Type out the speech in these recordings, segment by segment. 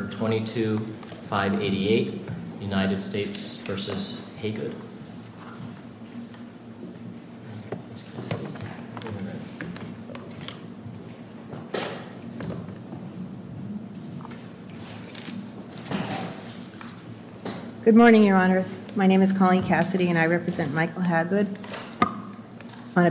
Good morning, your honors. My name is Colleen Cassidy, and I represent Michael Hagood on the street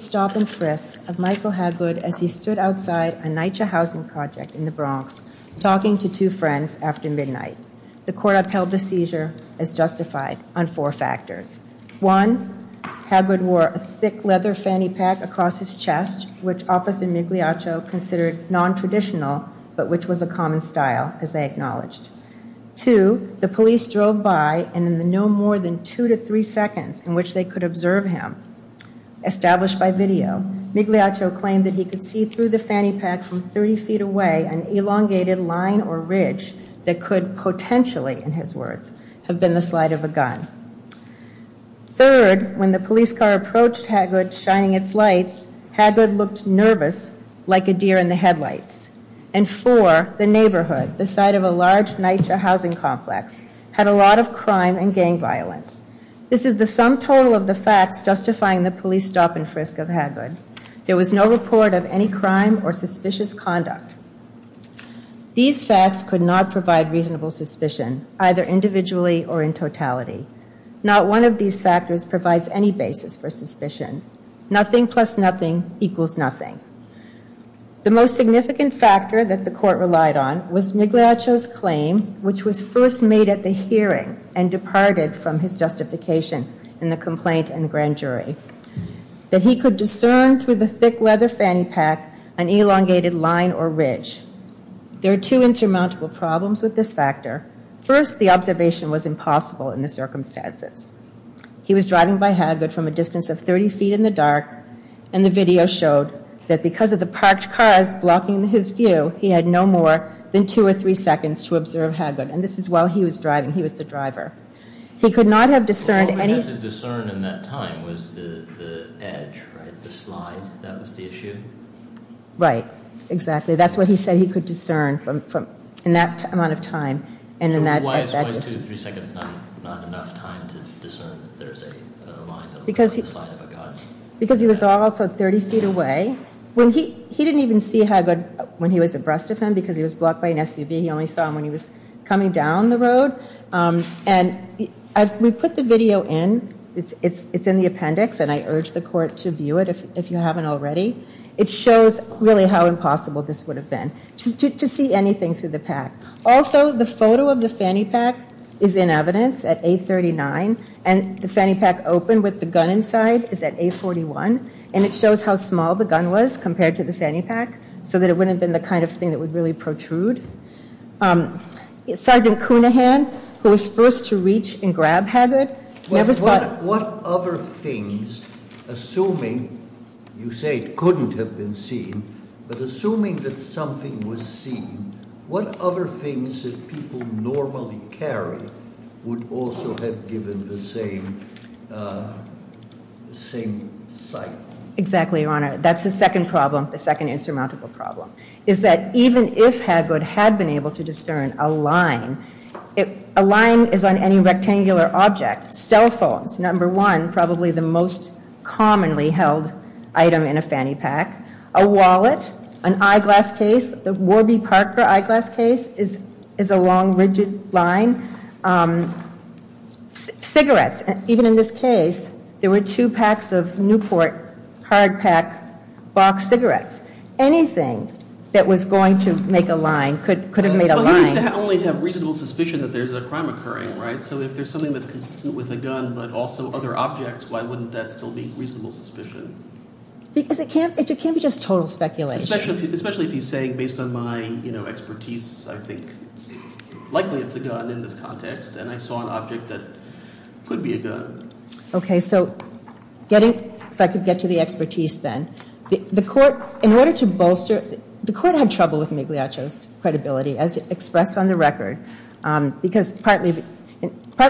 stop and frisk of Michael Hagood as he stood outside a NYCHA housing project in the Bronx, talking to two friends after midnight. The court upheld the seizure as justified on four factors. One, Hagood wore a thick leather fanny pack across his chest, which Officer Migliaccio considered nontraditional, but which was a common style, as they acknowledged. Two, the police drove by, and in the no more than two to three seconds in which they could observe him, established a a line or ridge that could potentially, in his words, have been the slide of a gun. Third, when the police car approached Hagood shining its lights, Hagood looked nervous like a deer in the headlights. And four, the neighborhood, the site of a large NYCHA housing complex, had a lot of crime and gang violence. This is the sum total of the facts justifying the police stop and frisk of Michael Hagood. There was no report of any crime or suspicious conduct. These facts could not provide reasonable suspicion, either individually or in totality. Not one of these factors provides any basis for suspicion. Nothing plus nothing equals nothing. The most significant factor that the court relied on was Migliaccio's claim, which was first made at the hearing and departed from his justification in the complaint in the grand jury. That he could prove that he was guilty of a crime. He could discern through the thick leather fanny pack an elongated line or ridge. There are two insurmountable problems with this factor. First, the observation was impossible in the circumstances. He was driving by Hagood from a distance of 30 feet in the dark, and the video showed that because of the parked cars blocking his view, he had no more than two or three seconds to observe Hagood. And this is while he was driving. He was the driver. He could not have discerned any... Right. Exactly. That's what he said he could discern in that amount of time. Why is two to three seconds not enough time to discern that there's a line that looks like the side of a gun? Because he was also 30 feet away. He didn't even see Hagood when he was abreast of him because he was blocked by an SUV. He only saw him when he was coming down the road. And we put the video in. It's in the appendix, and I urge the court to view it if you haven't already. It shows really how impossible this would have been to see anything through the pack. Also, the photo of the fanny pack is in evidence at A39, and the fanny pack open with the gun inside is at A41, and it shows how small the gun was compared to the fanny pack so that it wouldn't have been the kind of thing that would really protrude. Sergeant Cunahan, who was first to reach and grab Hagood, never saw... What other things, assuming, you say it couldn't have been seen, but assuming that something was seen, what other things did people normally carry would also have given the same sight? Exactly, Your Honor. That's the second problem, the second insurmountable problem, is that even if Hagood had been able to discern a line, a line is on any rectangular object. Cell phones, number one, probably the most commonly held item in a fanny pack. A wallet, an eyeglass case, the Warby Parker eyeglass case is a long, rigid line. Cigarettes. Even in this case, there were two packs of Newport hard pack box cigarettes. Anything that was going to make a line could have made a line. Well, he used to only have reasonable suspicion that there's a crime occurring, right? So if there's something that's consistent with a gun, but also other objects, why wouldn't that still be reasonable suspicion? Because it can't be just total speculation. Especially if he's saying, based on my expertise, I think likely it's a gun in this context, and I saw an object that could be a gun. Okay, so getting, if I could get to the expertise then. The court, in order to bolster, the court had trouble with Migliaccio's credibility, as expressed on the record, because partly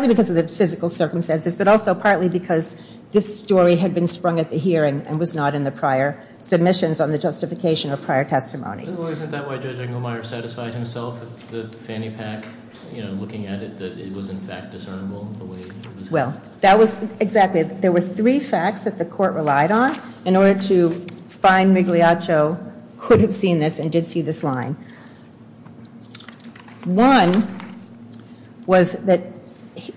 because of the physical circumstances, but also partly because this story had been sprung at the hearing and was not in the prior submissions on the justification or prior testimony. Well, isn't that why Judge Engelmeyer satisfied himself with the fanny pack, you know, looking at it, that it was in fact discernible? Well, that was exactly, there were three facts that the court relied on in order to find Migliaccio could have seen this and did see this line. One was that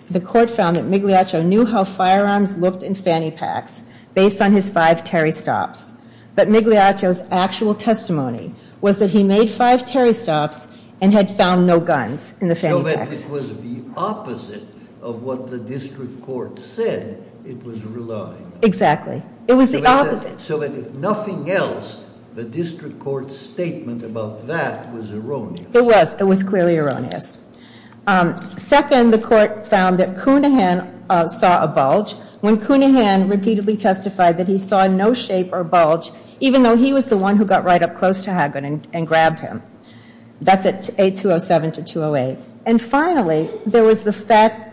the court found that Migliaccio knew how firearms looked in fanny packs based on his five Terry stops. But Migliaccio's actual testimony was that he made five Terry stops and had found no guns in the fanny packs. So that it was the opposite of what the district court said it was relying on. Exactly. It was the opposite. So that if nothing else, the district court's statement about that was erroneous. It was. It was clearly erroneous. Second, the court found that Cunahan saw a bulge. When Cunahan repeatedly testified that he saw no shape or bulge, even though he was the one who got right up close to Haggard and grabbed him. That's at A207 to 208. And finally, there was the fact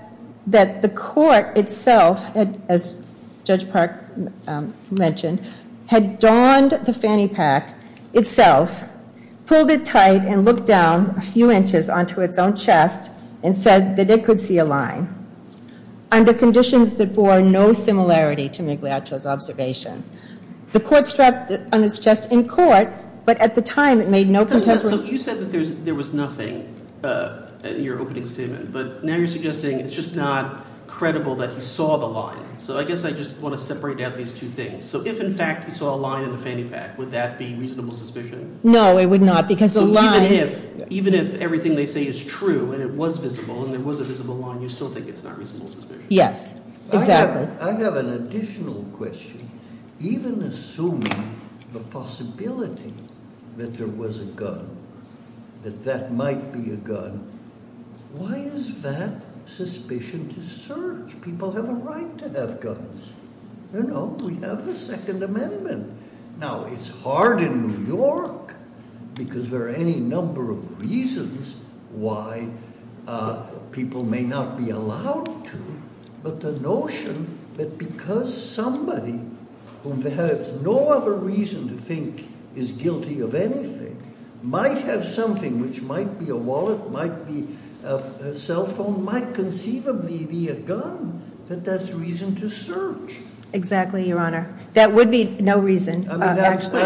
that the court itself, as Judge Park mentioned, had donned the fanny pack itself. Pulled it tight and looked down a few inches onto its own chest and said that it could see a line. Under conditions that bore no similarity to Migliaccio's observations. The court struck on its chest in court, but at the time it made no contention. So you said that there was nothing in your opening statement. But now you're suggesting it's just not credible that he saw the line. So I guess I just want to separate out these two things. So if, in fact, he saw a line in the fanny pack, would that be reasonable suspicion? No, it would not, because the line- So even if everything they say is true, and it was visible, and there was a visible line, you still think it's not reasonable suspicion? Yes, exactly. I have an additional question. Even assuming the possibility that there was a gun, that that might be a gun, why is that suspicion to search? People have a right to have guns. You know, we have the Second Amendment. Now, it's hard in New York because there are any number of reasons why people may not be allowed to. But the notion that because somebody who has no other reason to think is guilty of anything might have something, which might be a wallet, might be a cell phone, might conceivably be a gun, that that's reason to search. Exactly, Your Honor. That would be no reason. Exactly?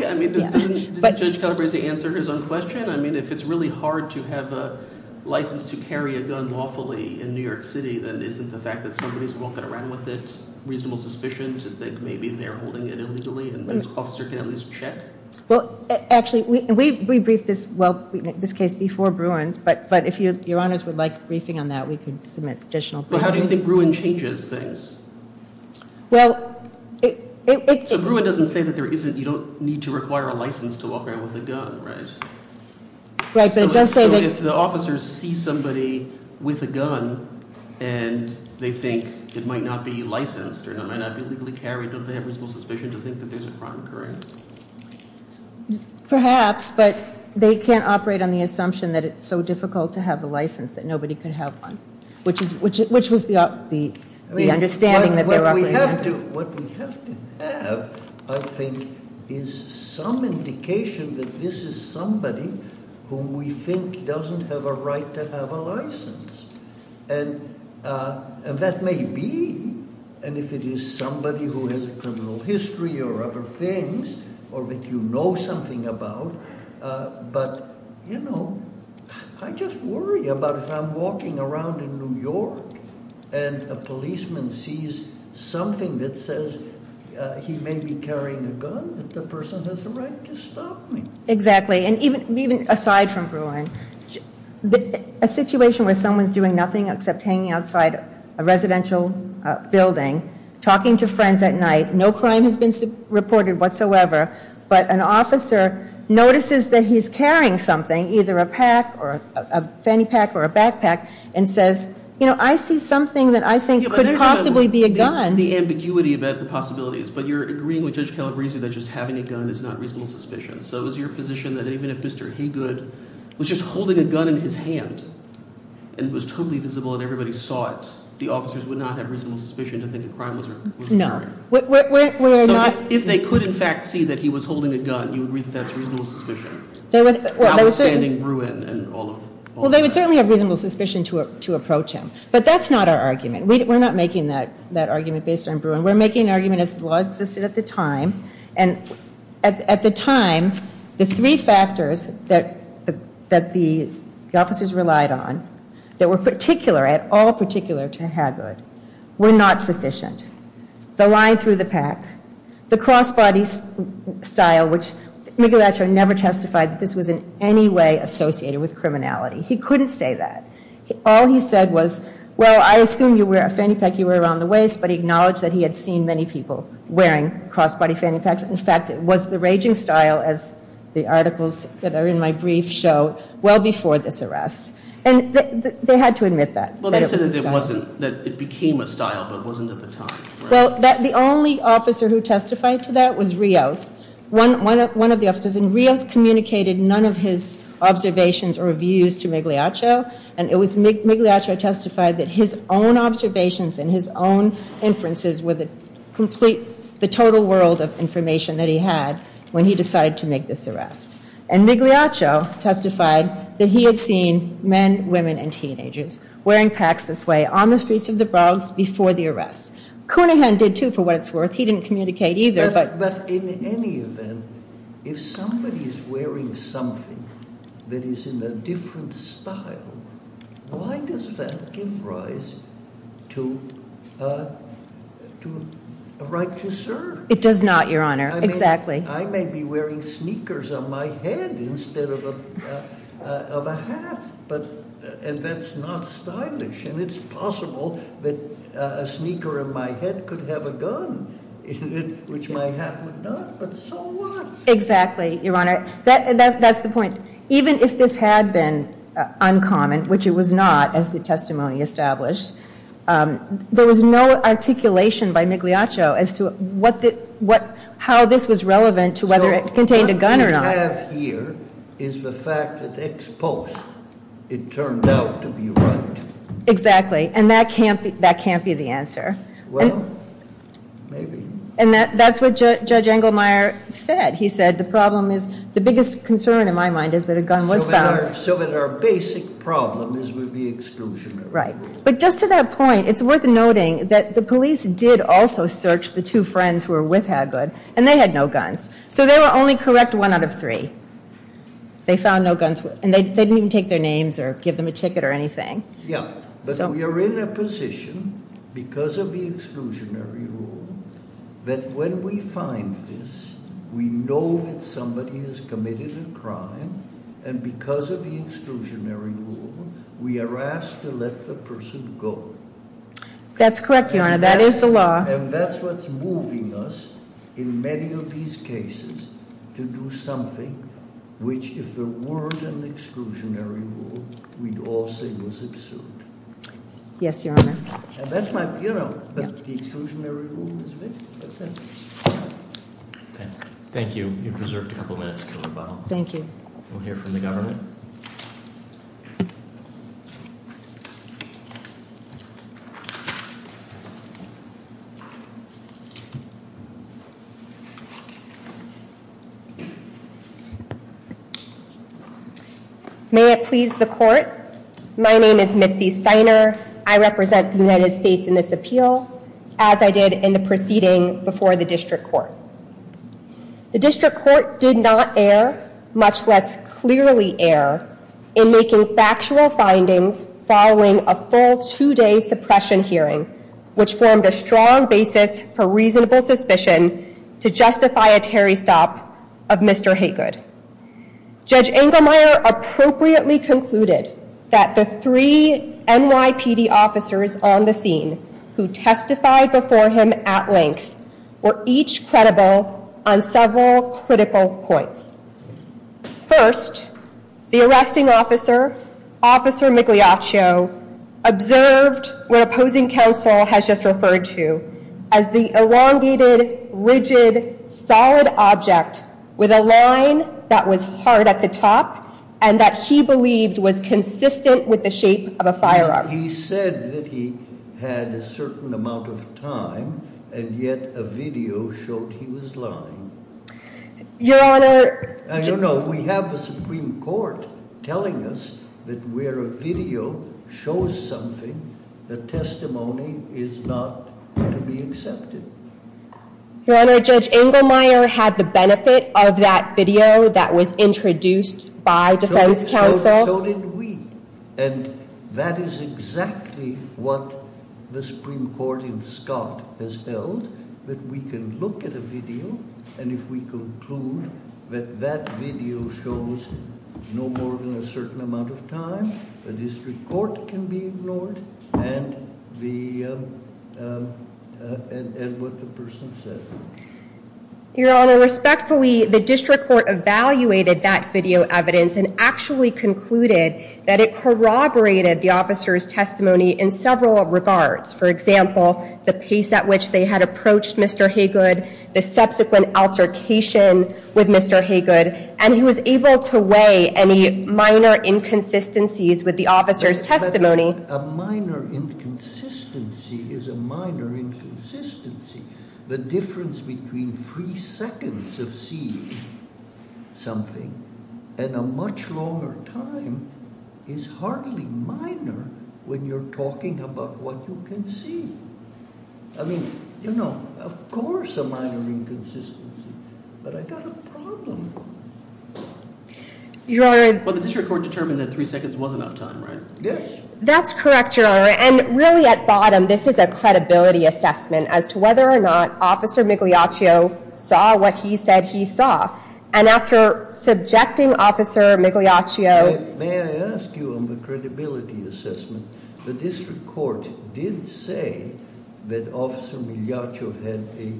Didn't Judge Calabresi answer his own question? Again, I mean, if it's really hard to have a license to carry a gun lawfully in New York City, then isn't the fact that somebody's walking around with it reasonable suspicion to think maybe they're holding it illegally and the officer can at least check? Well, actually, we briefed this case before Bruin, but if Your Honors would like a briefing on that, we could submit additional- But how do you think Bruin changes things? Well, it- Right, but it does say that- So if the officers see somebody with a gun and they think it might not be licensed or it might not be legally carried, don't they have reasonable suspicion to think that there's a crime occurring? Perhaps, but they can't operate on the assumption that it's so difficult to have a license that nobody could have one, which was the understanding that they're operating on. What we have to have, I think, is some indication that this is somebody who we think doesn't have a right to have a license, and that may be, and if it is somebody who has a criminal history or other things or that you know something about, but you know, I just worry about if I'm walking around in New York and a policeman sees something that says he may be carrying a gun, that the person has the right to stop me. Exactly, and even aside from Bruin, a situation where someone's doing nothing except hanging outside a residential building, talking to friends at night, no crime has been reported whatsoever, but an officer notices that he's carrying something, either a pack or a fanny pack or a backpack, and says, you know, I see something that I think could possibly be a gun. The ambiguity about the possibilities, but you're agreeing with Judge Calabresi that just having a gun is not reasonable suspicion. So is your position that even if Mr. Haygood was just holding a gun in his hand and it was totally visible and everybody saw it, the officers would not have reasonable suspicion to think a crime was occurring? No. So if they could in fact see that he was holding a gun, you agree that that's reasonable suspicion? Well, they would certainly have reasonable suspicion to approach him, but that's not our argument. We're not making that argument based on Bruin. We're making an argument as the law existed at the time, and at the time, the three factors that the officers relied on that were particular, at all particular to Haygood, were not sufficient. The line through the pack, the crossbody style, which Michelangelo never testified that this was in any way associated with criminality. He couldn't say that. All he said was, well, I assume you wear a fanny pack, you wear it around the waist, but he acknowledged that he had seen many people wearing crossbody fanny packs. In fact, it was the raging style, as the articles that are in my brief show, well before this arrest. And they had to admit that. Well, they said that it wasn't, that it became a style, but it wasn't at the time. Well, the only officer who testified to that was Rios. One of the officers, and Rios communicated none of his observations or views to Migliaccio, and it was Migliaccio who testified that his own observations and his own inferences were the complete, the total world of information that he had when he decided to make this arrest. And Migliaccio testified that he had seen men, women, and teenagers wearing packs this way on the streets of the Bronx before the arrest. Cunningham did too, for what it's worth. He didn't communicate either. But in any event, if somebody is wearing something that is in a different style, why does that give rise to a right to serve? It does not, Your Honor. Exactly. I may be wearing sneakers on my head instead of a hat, and that's not stylish. And it's possible that a sneaker in my head could have a gun in it, which my hat would not, but so what? Exactly, Your Honor. That's the point. Even if this had been uncommon, which it was not, as the testimony established, there was no articulation by Migliaccio as to how this was relevant to whether it contained a gun or not. What I have here is the fact that ex post it turned out to be right. Exactly, and that can't be the answer. Well, maybe. And that's what Judge Engelmeyer said. He said the problem is, the biggest concern in my mind is that a gun was found. So that our basic problem is with the exclusion. Right. But just to that point, it's worth noting that the police did also search the two friends who were with Haglund, and they had no guns. So they were only correct one out of three. They found no guns, and they didn't even take their names or give them a ticket or anything. Yeah, but we are in a position, because of the exclusionary rule, that when we find this, we know that somebody has committed a crime, and because of the exclusionary rule, we are asked to let the person go. That's correct, Your Honor. That is the law. And that's what's moving us in many of these cases to do something which, if there weren't an exclusionary rule, we'd all say was absurd. Yes, Your Honor. And that's my, you know, but the exclusionary rule is big. That's it. Thank you. You're preserved a couple minutes, Killer Bob. Thank you. We'll hear from the government. May it please the court. My name is Mitzi Steiner. I represent the United States in this appeal, as I did in the proceeding before the district court. The district court did not err, much less clearly err, in making factual findings following a full two-day suppression hearing, which formed a strong basis for the court's decision. reasonable suspicion to justify a Terry stop of Mr. Haygood. Judge Engelmeyer appropriately concluded that the three NYPD officers on the scene who testified before him at length were each credible on several critical points. First, the arresting officer, Officer Migliaccio, observed what opposing counsel has just referred to as the elongated, rigid, solid object with a line that was hard at the top and that he believed was consistent with the shape of a firearm. He said that he had a certain amount of time, and yet a video showed he was lying. Your Honor. I don't know. We have a Supreme Court telling us that where a video shows something, the testimony is not to be accepted. Your Honor, Judge Engelmeyer had the benefit of that video that was introduced by defense counsel. So did we. And that is exactly what the Supreme Court in Scott has held, that we can look at a video, and if we conclude that that video shows no more than a certain amount of time, the district court can be ignored, and what the person said. Your Honor, respectfully, the district court evaluated that video evidence and actually concluded that it corroborated the officer's testimony in several regards. For example, the pace at which they had approached Mr. Haygood, the subsequent altercation with Mr. Haygood, and he was able to weigh any minor inconsistencies with the officer's testimony. A minor inconsistency is a minor inconsistency. The difference between three seconds of seeing something and a much longer time is hardly minor when you're talking about what you can see. I mean, you know, of course a minor inconsistency, but I got a problem. Your Honor. Well, the district court determined that three seconds was enough time, right? Yes. That's correct, Your Honor, and really at bottom, this is a credibility assessment as to whether or not Officer Migliaccio saw what he said he saw. And after subjecting Officer Migliaccio- May I ask you on the credibility assessment, the district court did say that Officer Migliaccio had a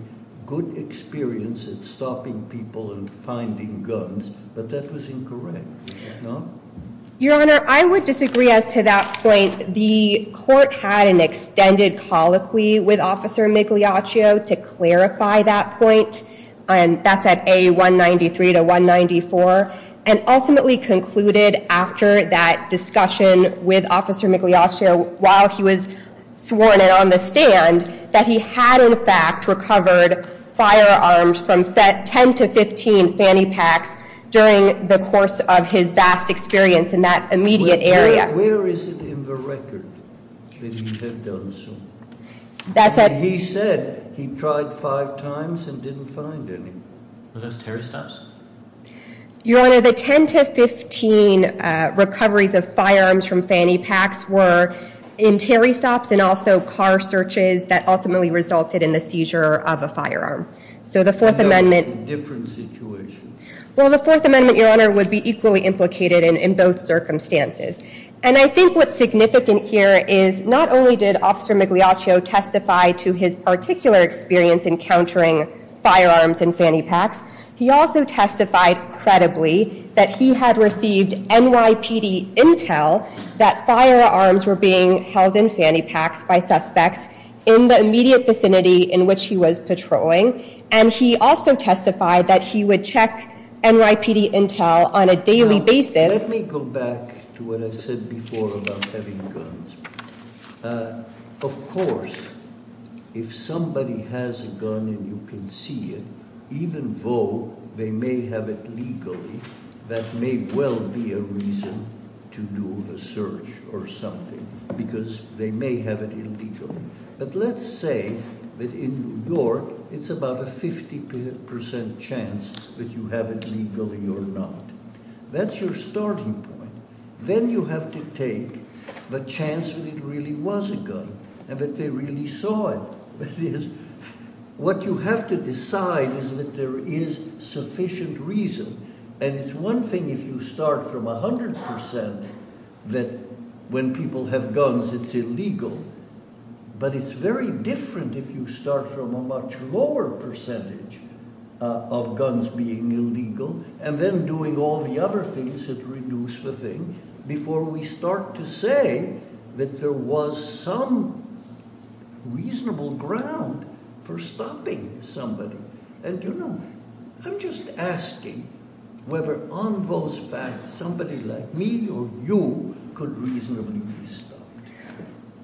good experience at stopping people and finding guns, but that was incorrect, no? Your Honor, I would disagree as to that point. The court had an extended colloquy with Officer Migliaccio to clarify that point. That's at A193 to 194, and ultimately concluded after that discussion with Officer Migliaccio while he was sworn in on the stand that he had, in fact, recovered firearms from 10 to 15 fanny packs during the course of his vast experience in that immediate area. Where is it in the record that he had done so? He said he tried five times and didn't find any. Were those Terry stops? Your Honor, the 10 to 15 recoveries of firearms from fanny packs were in Terry stops and also car searches that ultimately resulted in the seizure of a firearm. So the Fourth Amendment- That was a different situation. Well, the Fourth Amendment, Your Honor, would be equally implicated in both circumstances. And I think what's significant here is not only did Officer Migliaccio testify to his particular experience encountering firearms in fanny packs, he also testified credibly that he had received NYPD intel that firearms were being held in fanny packs by suspects in the immediate vicinity in which he was patrolling, and he also testified that he would check NYPD intel on a daily basis- Let me go back to what I said before about having guns. Of course, if somebody has a gun and you can see it, even though they may have it legally, that may well be a reason to do a search or something because they may have it illegally. But let's say that in New York, it's about a 50% chance that you have it legally or not. That's your starting point. Then you have to take the chance that it really was a gun and that they really saw it. That is, what you have to decide is that there is sufficient reason. And it's one thing if you start from 100% that when people have guns it's illegal, but it's very different if you start from a much lower percentage of guns being illegal and then doing all the other things that reduce the thing before we start to say that there was some reasonable ground for stopping somebody. And, you know, I'm just asking whether on those facts somebody like me or you could reasonably be stopped.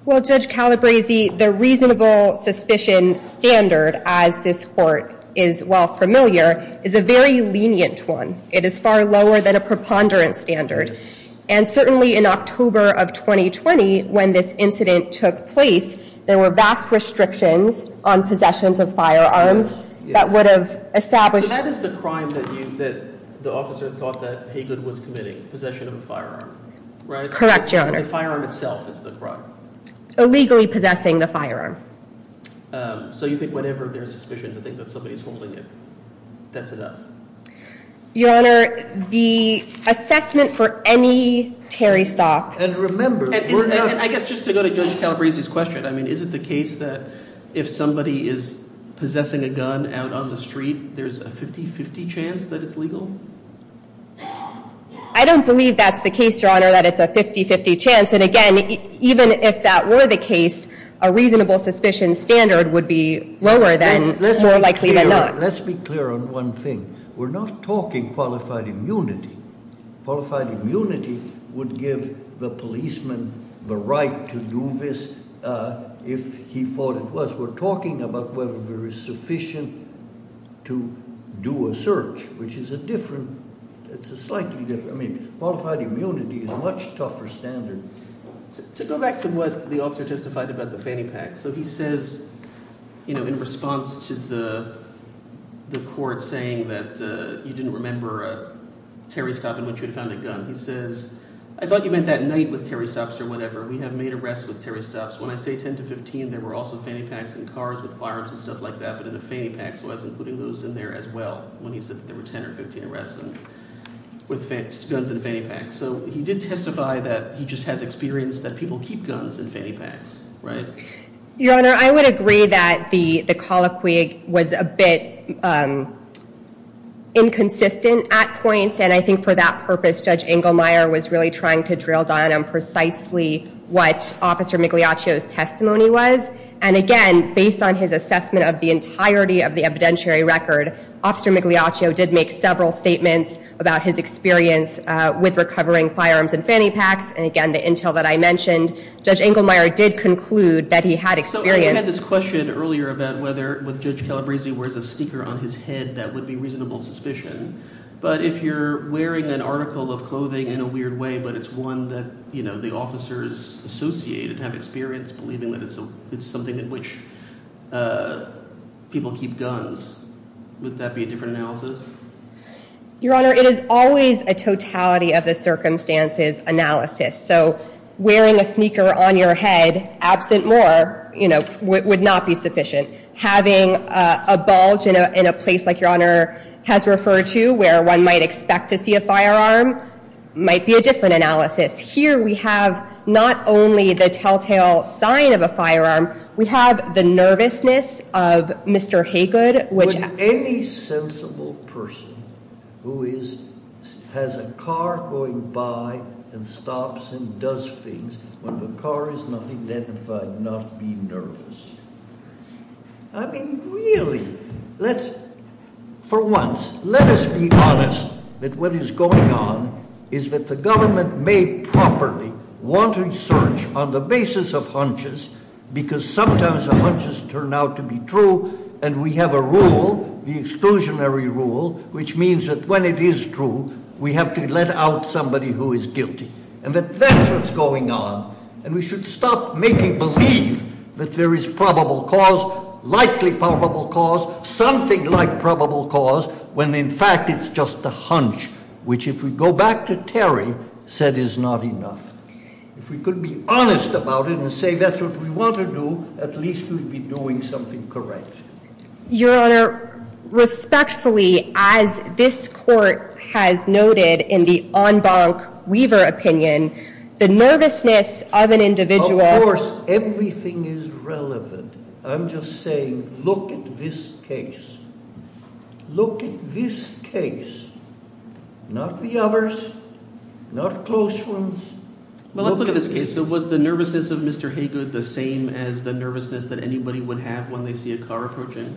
Well, Judge Calabresi, the reasonable suspicion standard, as this court is well familiar, is a very lenient one. It is far lower than a preponderance standard. And certainly in October of 2020 when this incident took place, there were vast restrictions on possessions of firearms that would have established. So that is the crime that the officer thought that Haygood was committing, possession of a firearm. Correct, Your Honor. The firearm itself is the crime. Illegally possessing the firearm. So you think whatever their suspicion to think that somebody is holding it, that's enough? Your Honor, the assessment for any Terry stock. And remember, I guess just to go to Judge Calabresi's question, I mean, is it the case that if somebody is possessing a gun out on the street, there's a 50-50 chance that it's legal? I don't believe that's the case, Your Honor, that it's a 50-50 chance. And, again, even if that were the case, a reasonable suspicion standard would be lower than, more likely than not. Let's be clear on one thing. We're not talking qualified immunity. Qualified immunity would give the policeman the right to do this if he thought it was. We're talking about whether there is sufficient to do a search, which is a different, it's a slightly different. I mean, qualified immunity is a much tougher standard. To go back to what the officer testified about the fanny packs. So he says, you know, in response to the court saying that you didn't remember a Terry stop in which you had found a gun. He says, I thought you meant that night with Terry stops or whatever. We have made arrests with Terry stops. When I say 10 to 15, there were also fanny packs in cars with firearms and stuff like that, including those in there as well, when he said there were 10 or 15 arrests with guns and fanny packs. So he did testify that he just has experience that people keep guns and fanny packs, right? Your Honor, I would agree that the colloquy was a bit inconsistent at points. And I think for that purpose, Judge Engelmeyer was really trying to drill down on precisely what Officer Migliaccio's testimony was. And again, based on his assessment of the entirety of the evidentiary record, Officer Migliaccio did make several statements about his experience with recovering firearms and fanny packs. And again, the intel that I mentioned, Judge Engelmeyer did conclude that he had experience. So I had this question earlier about whether with Judge Calabresi wears a sneaker on his head, that would be reasonable suspicion. But if you're wearing an article of clothing in a weird way, but it's one that, you know, the officers associated have experience believing that it's something in which people keep guns, would that be a different analysis? Your Honor, it is always a totality of the circumstances analysis. So wearing a sneaker on your head absent more, you know, would not be sufficient. Having a bulge in a place like Your Honor has referred to where one might expect to see a firearm might be a different analysis. Here we have not only the telltale sign of a firearm, we have the nervousness of Mr. Haygood, which- Would any sensible person who has a car going by and stops and does things when the car is not identified not be nervous? I mean, really, let's, for once, let us be honest that what is going on is that the government may properly want research on the basis of hunches, because sometimes the hunches turn out to be true, and we have a rule, the exclusionary rule, which means that when it is true, we have to let out somebody who is guilty. And that that's what's going on, and we should stop making believe that there is probable cause, likely probable cause, something like probable cause, when in fact it's just a hunch, which if we go back to Terry said is not enough. If we could be honest about it and say that's what we want to do, at least we'd be doing something correct. Your Honor, respectfully, as this court has noted in the en banc Weaver opinion, the nervousness of an individual- Of course, everything is relevant. I'm just saying look at this case. Look at this case. Not the others. Not close ones. Well, look at this case. Was the nervousness of Mr. Haygood the same as the nervousness that anybody would have when they see a car approaching?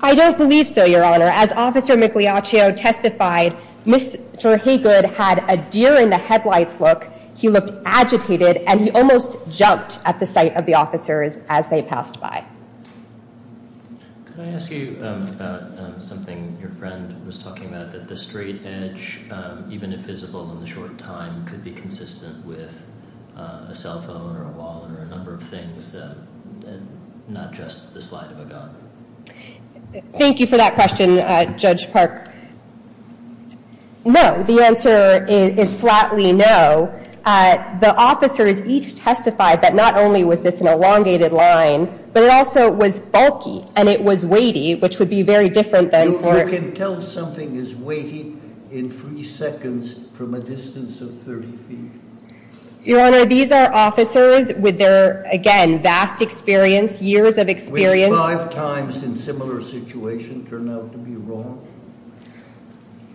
I don't believe so, Your Honor. As Officer Migliaccio testified, Mr. Haygood had a deer-in-the-headlights look. He looked agitated, and he almost jumped at the sight of the officers as they passed by. Could I ask you about something your friend was talking about, that the straight edge, even if visible in the short time, could be consistent with a cell phone or a wallet or a number of things, not just the slide of a gun? Thank you for that question, Judge Park. No. The answer is flatly no. The officers each testified that not only was this an elongated line, but it also was bulky and it was weighty, which would be very different than- You can tell something is weighty in three seconds from a distance of 30 feet. Your Honor, these are officers with their, again, vast experience, years of experience- Which five times in similar situations turn out to be wrong.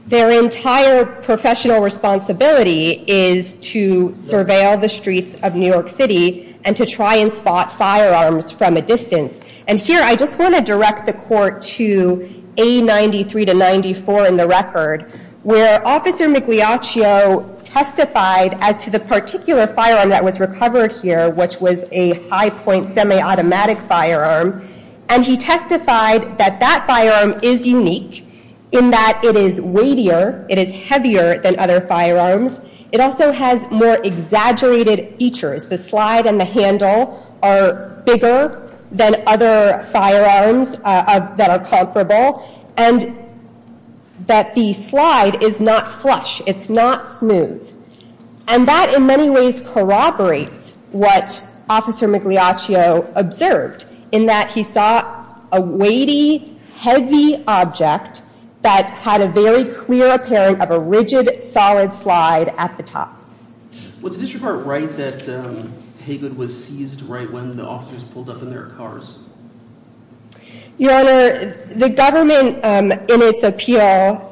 Their entire professional responsibility is to surveil the streets of New York City and to try and spot firearms from a distance. And here, I just want to direct the court to A93 to 94 in the record, where Officer Migliaccio testified as to the particular firearm that was recovered here, which was a high-point semi-automatic firearm, and he testified that that firearm is unique in that it is weightier, it is heavier than other firearms. It also has more exaggerated features. The slide and the handle are bigger than other firearms that are comparable, and that the slide is not flush, it's not smooth. And that, in many ways, corroborates what Officer Migliaccio observed, in that he saw a weighty, heavy object that had a very clear appearance of a rigid, solid slide at the top. Was the district court right that Haygood was seized right when the officers pulled up in their cars? Your Honor, the government, in its appeal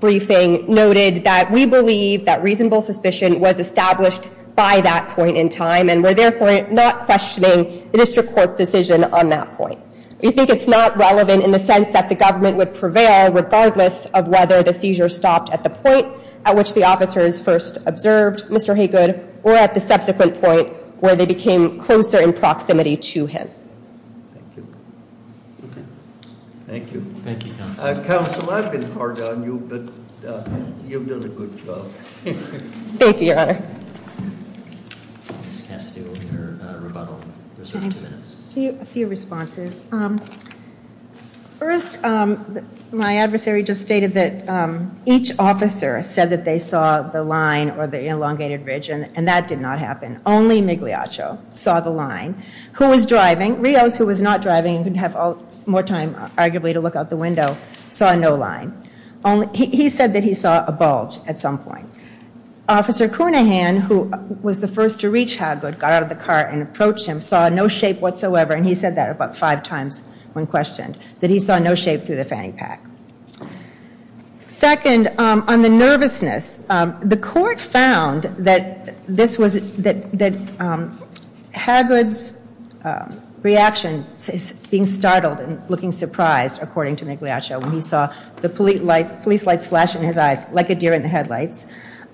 briefing, noted that we believe that reasonable suspicion was established by that point in time and were therefore not questioning the district court's decision on that point. We think it's not relevant in the sense that the government would prevail regardless of whether the seizure stopped at the point at which the officers first observed Mr. Haygood or at the subsequent point where they became closer in proximity to him. Thank you. Thank you. Thank you, Counsel. Counsel, I've been hard on you, but you've done a good job. Thank you, Your Honor. Ms. Castillo, your rebuttal. A few responses. First, my adversary just stated that each officer said that they saw the line or the elongated ridge, and that did not happen. Only Migliaccio saw the line. Who was driving? Rios, who was not driving and could have more time, arguably, to look out the window, saw no line. He said that he saw a bulge at some point. Officer Cunahan, who was the first to reach Haygood, got out of the car and approached him, saw no shape whatsoever, and he said that about five times when questioned, that he saw no shape through the fanny pack. Second, on the nervousness, the court found that Haygood's reaction, being startled and looking surprised, according to Migliaccio, when he saw the police lights flash in his eyes like a deer in the headlights,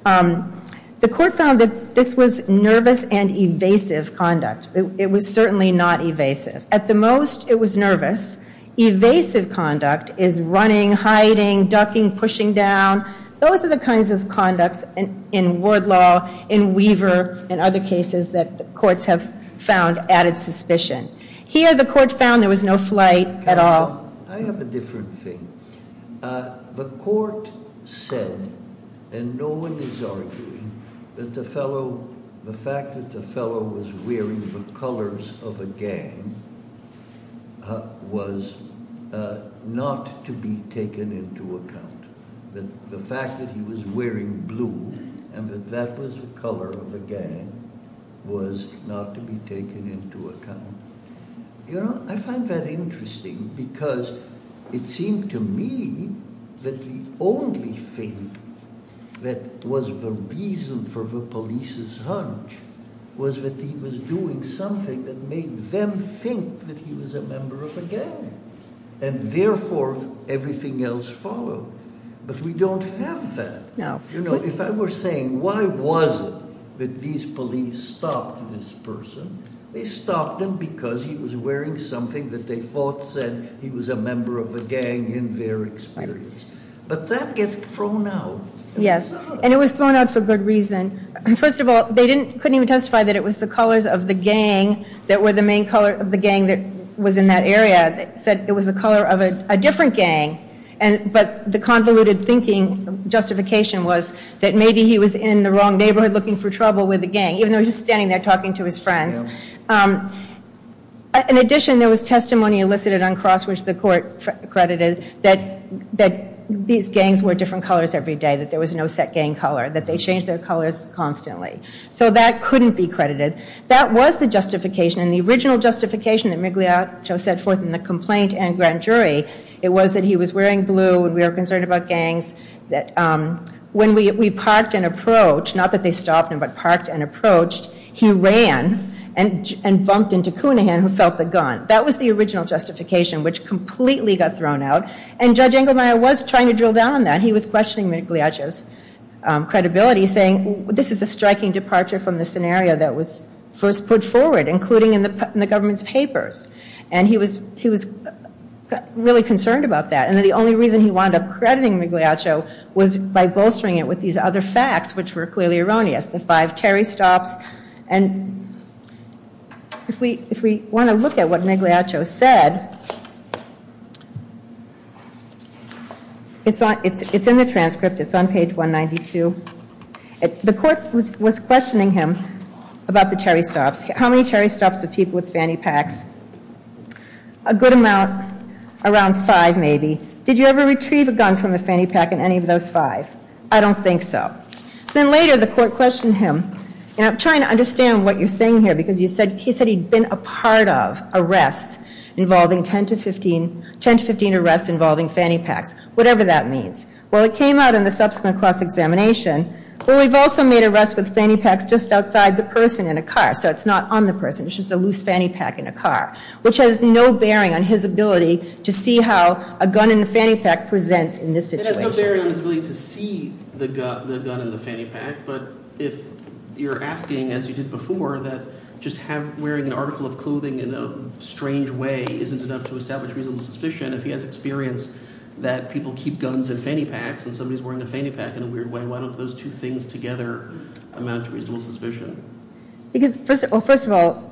the court found that this was nervous and evasive conduct. It was certainly not evasive. At the most, it was nervous. Evasive conduct is running, hiding, ducking, pushing down. Those are the kinds of conducts in ward law, in Weaver, and other cases that the courts have found added suspicion. Here, the court found there was no flight at all. I have a different thing. The court said, and no one is arguing, that the fact that the fellow was wearing the colors of a gang was not to be taken into account. The fact that he was wearing blue and that that was the color of a gang was not to be taken into account. I find that interesting because it seemed to me that the only thing that was the reason for the police's hunch was that he was doing something that made them think that he was a member of a gang and therefore everything else followed. But we don't have that. If I were saying, why was it that these police stopped this person, they stopped him because he was wearing something that they thought said he was a member of a gang in their experience. But that gets thrown out. Yes, and it was thrown out for good reason. First of all, they couldn't even testify that it was the colors of the gang that were the main color of the gang that was in that area that said it was the color of a different gang. But the convoluted thinking justification was that maybe he was in the wrong neighborhood looking for trouble with the gang, even though he was standing there talking to his friends. In addition, there was testimony elicited on crosswords the court credited that these gangs were different colors every day, that there was no set gang color, that they changed their colors constantly. So that couldn't be credited. That was the justification. And the original justification that Migliaccio set forth in the complaint and grand jury, it was that he was wearing blue and we were concerned about gangs. When we parked and approached, not that they stopped him, but parked and approached, he ran and bumped into Cunahan who felt the gun. That was the original justification, which completely got thrown out. And Judge Engelmeyer was trying to drill down on that. He was questioning Migliaccio's credibility, saying, this is a striking departure from the scenario that was first put forward, including in the government's papers. And he was really concerned about that. And the only reason he wound up crediting Migliaccio was by bolstering it with these other facts, which were clearly erroneous, the five Terry stops. And if we want to look at what Migliaccio said, it's in the transcript. It's on page 192. The court was questioning him about the Terry stops. How many Terry stops did people with fanny packs? A good amount, around five maybe. Did you ever retrieve a gun from a fanny pack in any of those five? I don't think so. Then later the court questioned him. And I'm trying to understand what you're saying here, because he said he'd been a part of arrests involving 10 to 15 arrests involving fanny packs, whatever that means. Well, it came out in the subsequent cross-examination. Well, we've also made arrests with fanny packs just outside the person in a car, so it's not on the person, it's just a loose fanny pack in a car, which has no bearing on his ability to see how a gun in a fanny pack presents in this situation. It has no bearing on his ability to see the gun in the fanny pack, but if you're asking, as you did before, that just wearing an article of clothing in a strange way isn't enough to establish reasonable suspicion, if he has experience that people keep guns in fanny packs and somebody's wearing a fanny pack in a weird way, then why don't those two things together amount to reasonable suspicion? Well, first of all,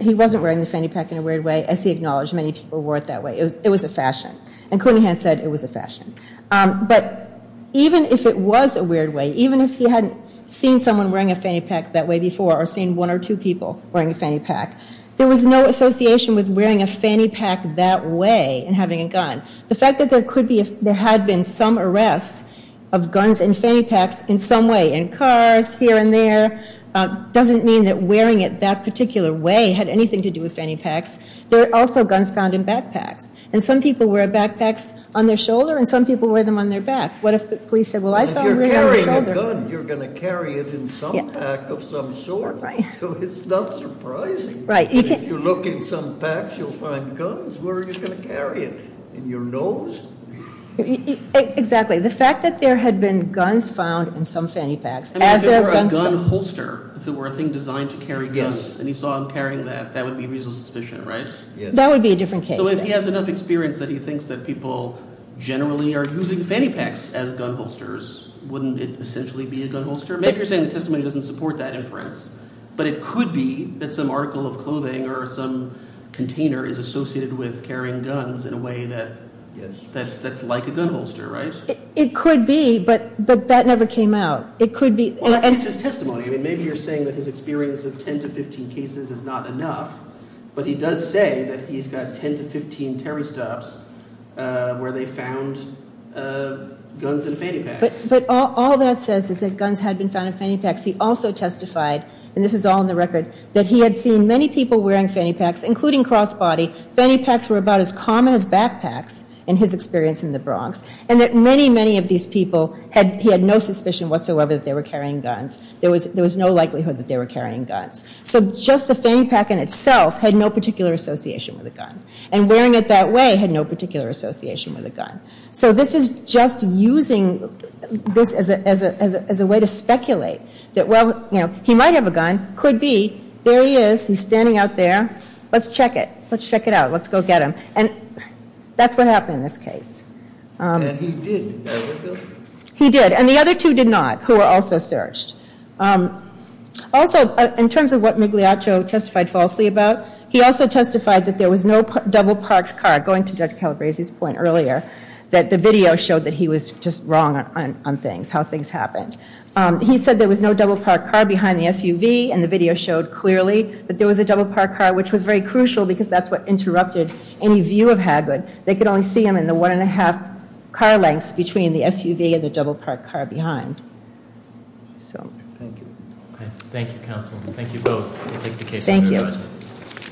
he wasn't wearing the fanny pack in a weird way, as he acknowledged many people wore it that way. It was a fashion. And Coney Hunt said it was a fashion. But even if it was a weird way, even if he hadn't seen someone wearing a fanny pack that way before or seen one or two people wearing a fanny pack, there was no association with wearing a fanny pack that way and having a gun. The fact that there had been some arrests of guns in fanny packs in some way, in cars, here and there, doesn't mean that wearing it that particular way had anything to do with fanny packs. There are also guns found in backpacks. And some people wear backpacks on their shoulder and some people wear them on their back. What if the police said, well, I saw you wearing it on your shoulder. If you're carrying a gun, you're going to carry it in some pack of some sort. So it's not surprising. If you look in some packs, you'll find guns. Where are you going to carry it? In your nose? Exactly. The fact that there had been guns found in some fanny packs. If it were a gun holster, if it were a thing designed to carry guns, and he saw him carrying that, that would be reasonable suspicion, right? That would be a different case. So if he has enough experience that he thinks that people generally are using fanny packs as gun holsters, wouldn't it essentially be a gun holster? Maybe you're saying the testimony doesn't support that inference. But it could be that some article of clothing or some container is associated with carrying guns in a way that's like a gun holster, right? It could be, but that never came out. It could be. Well, that's just testimony. Maybe you're saying that his experience of 10 to 15 cases is not enough, but he does say that he's got 10 to 15 terror stops where they found guns in fanny packs. But all that says is that guns had been found in fanny packs. He also testified, and this is all in the record, that he had seen many people wearing fanny packs, including cross-body. Fanny packs were about as common as backpacks in his experience in the Bronx. And that many, many of these people, he had no suspicion whatsoever that they were carrying guns. There was no likelihood that they were carrying guns. So just the fanny pack in itself had no particular association with a gun. And wearing it that way had no particular association with a gun. So this is just using this as a way to speculate that, well, you know, he might have a gun. Could be. There he is. He's standing out there. Let's check it. Let's check it out. Let's go get him. And that's what happened in this case. And he did. He did. And the other two did not, who were also searched. Also, in terms of what Migliaccio testified falsely about, he also testified that there was no double-parked car, going to Judge Calabresi's point earlier, that the video showed that he was just wrong on things, how things happened. He said there was no double-parked car behind the SUV, and the video showed clearly that there was a double-parked car, which was very crucial because that's what interrupted any view of Haggard. They could only see him in the one-and-a-half car lengths between the SUV and the double-parked car behind. So. Thank you. Thank you, counsel. Thank you both. We'll take the case under advisement. Thank you.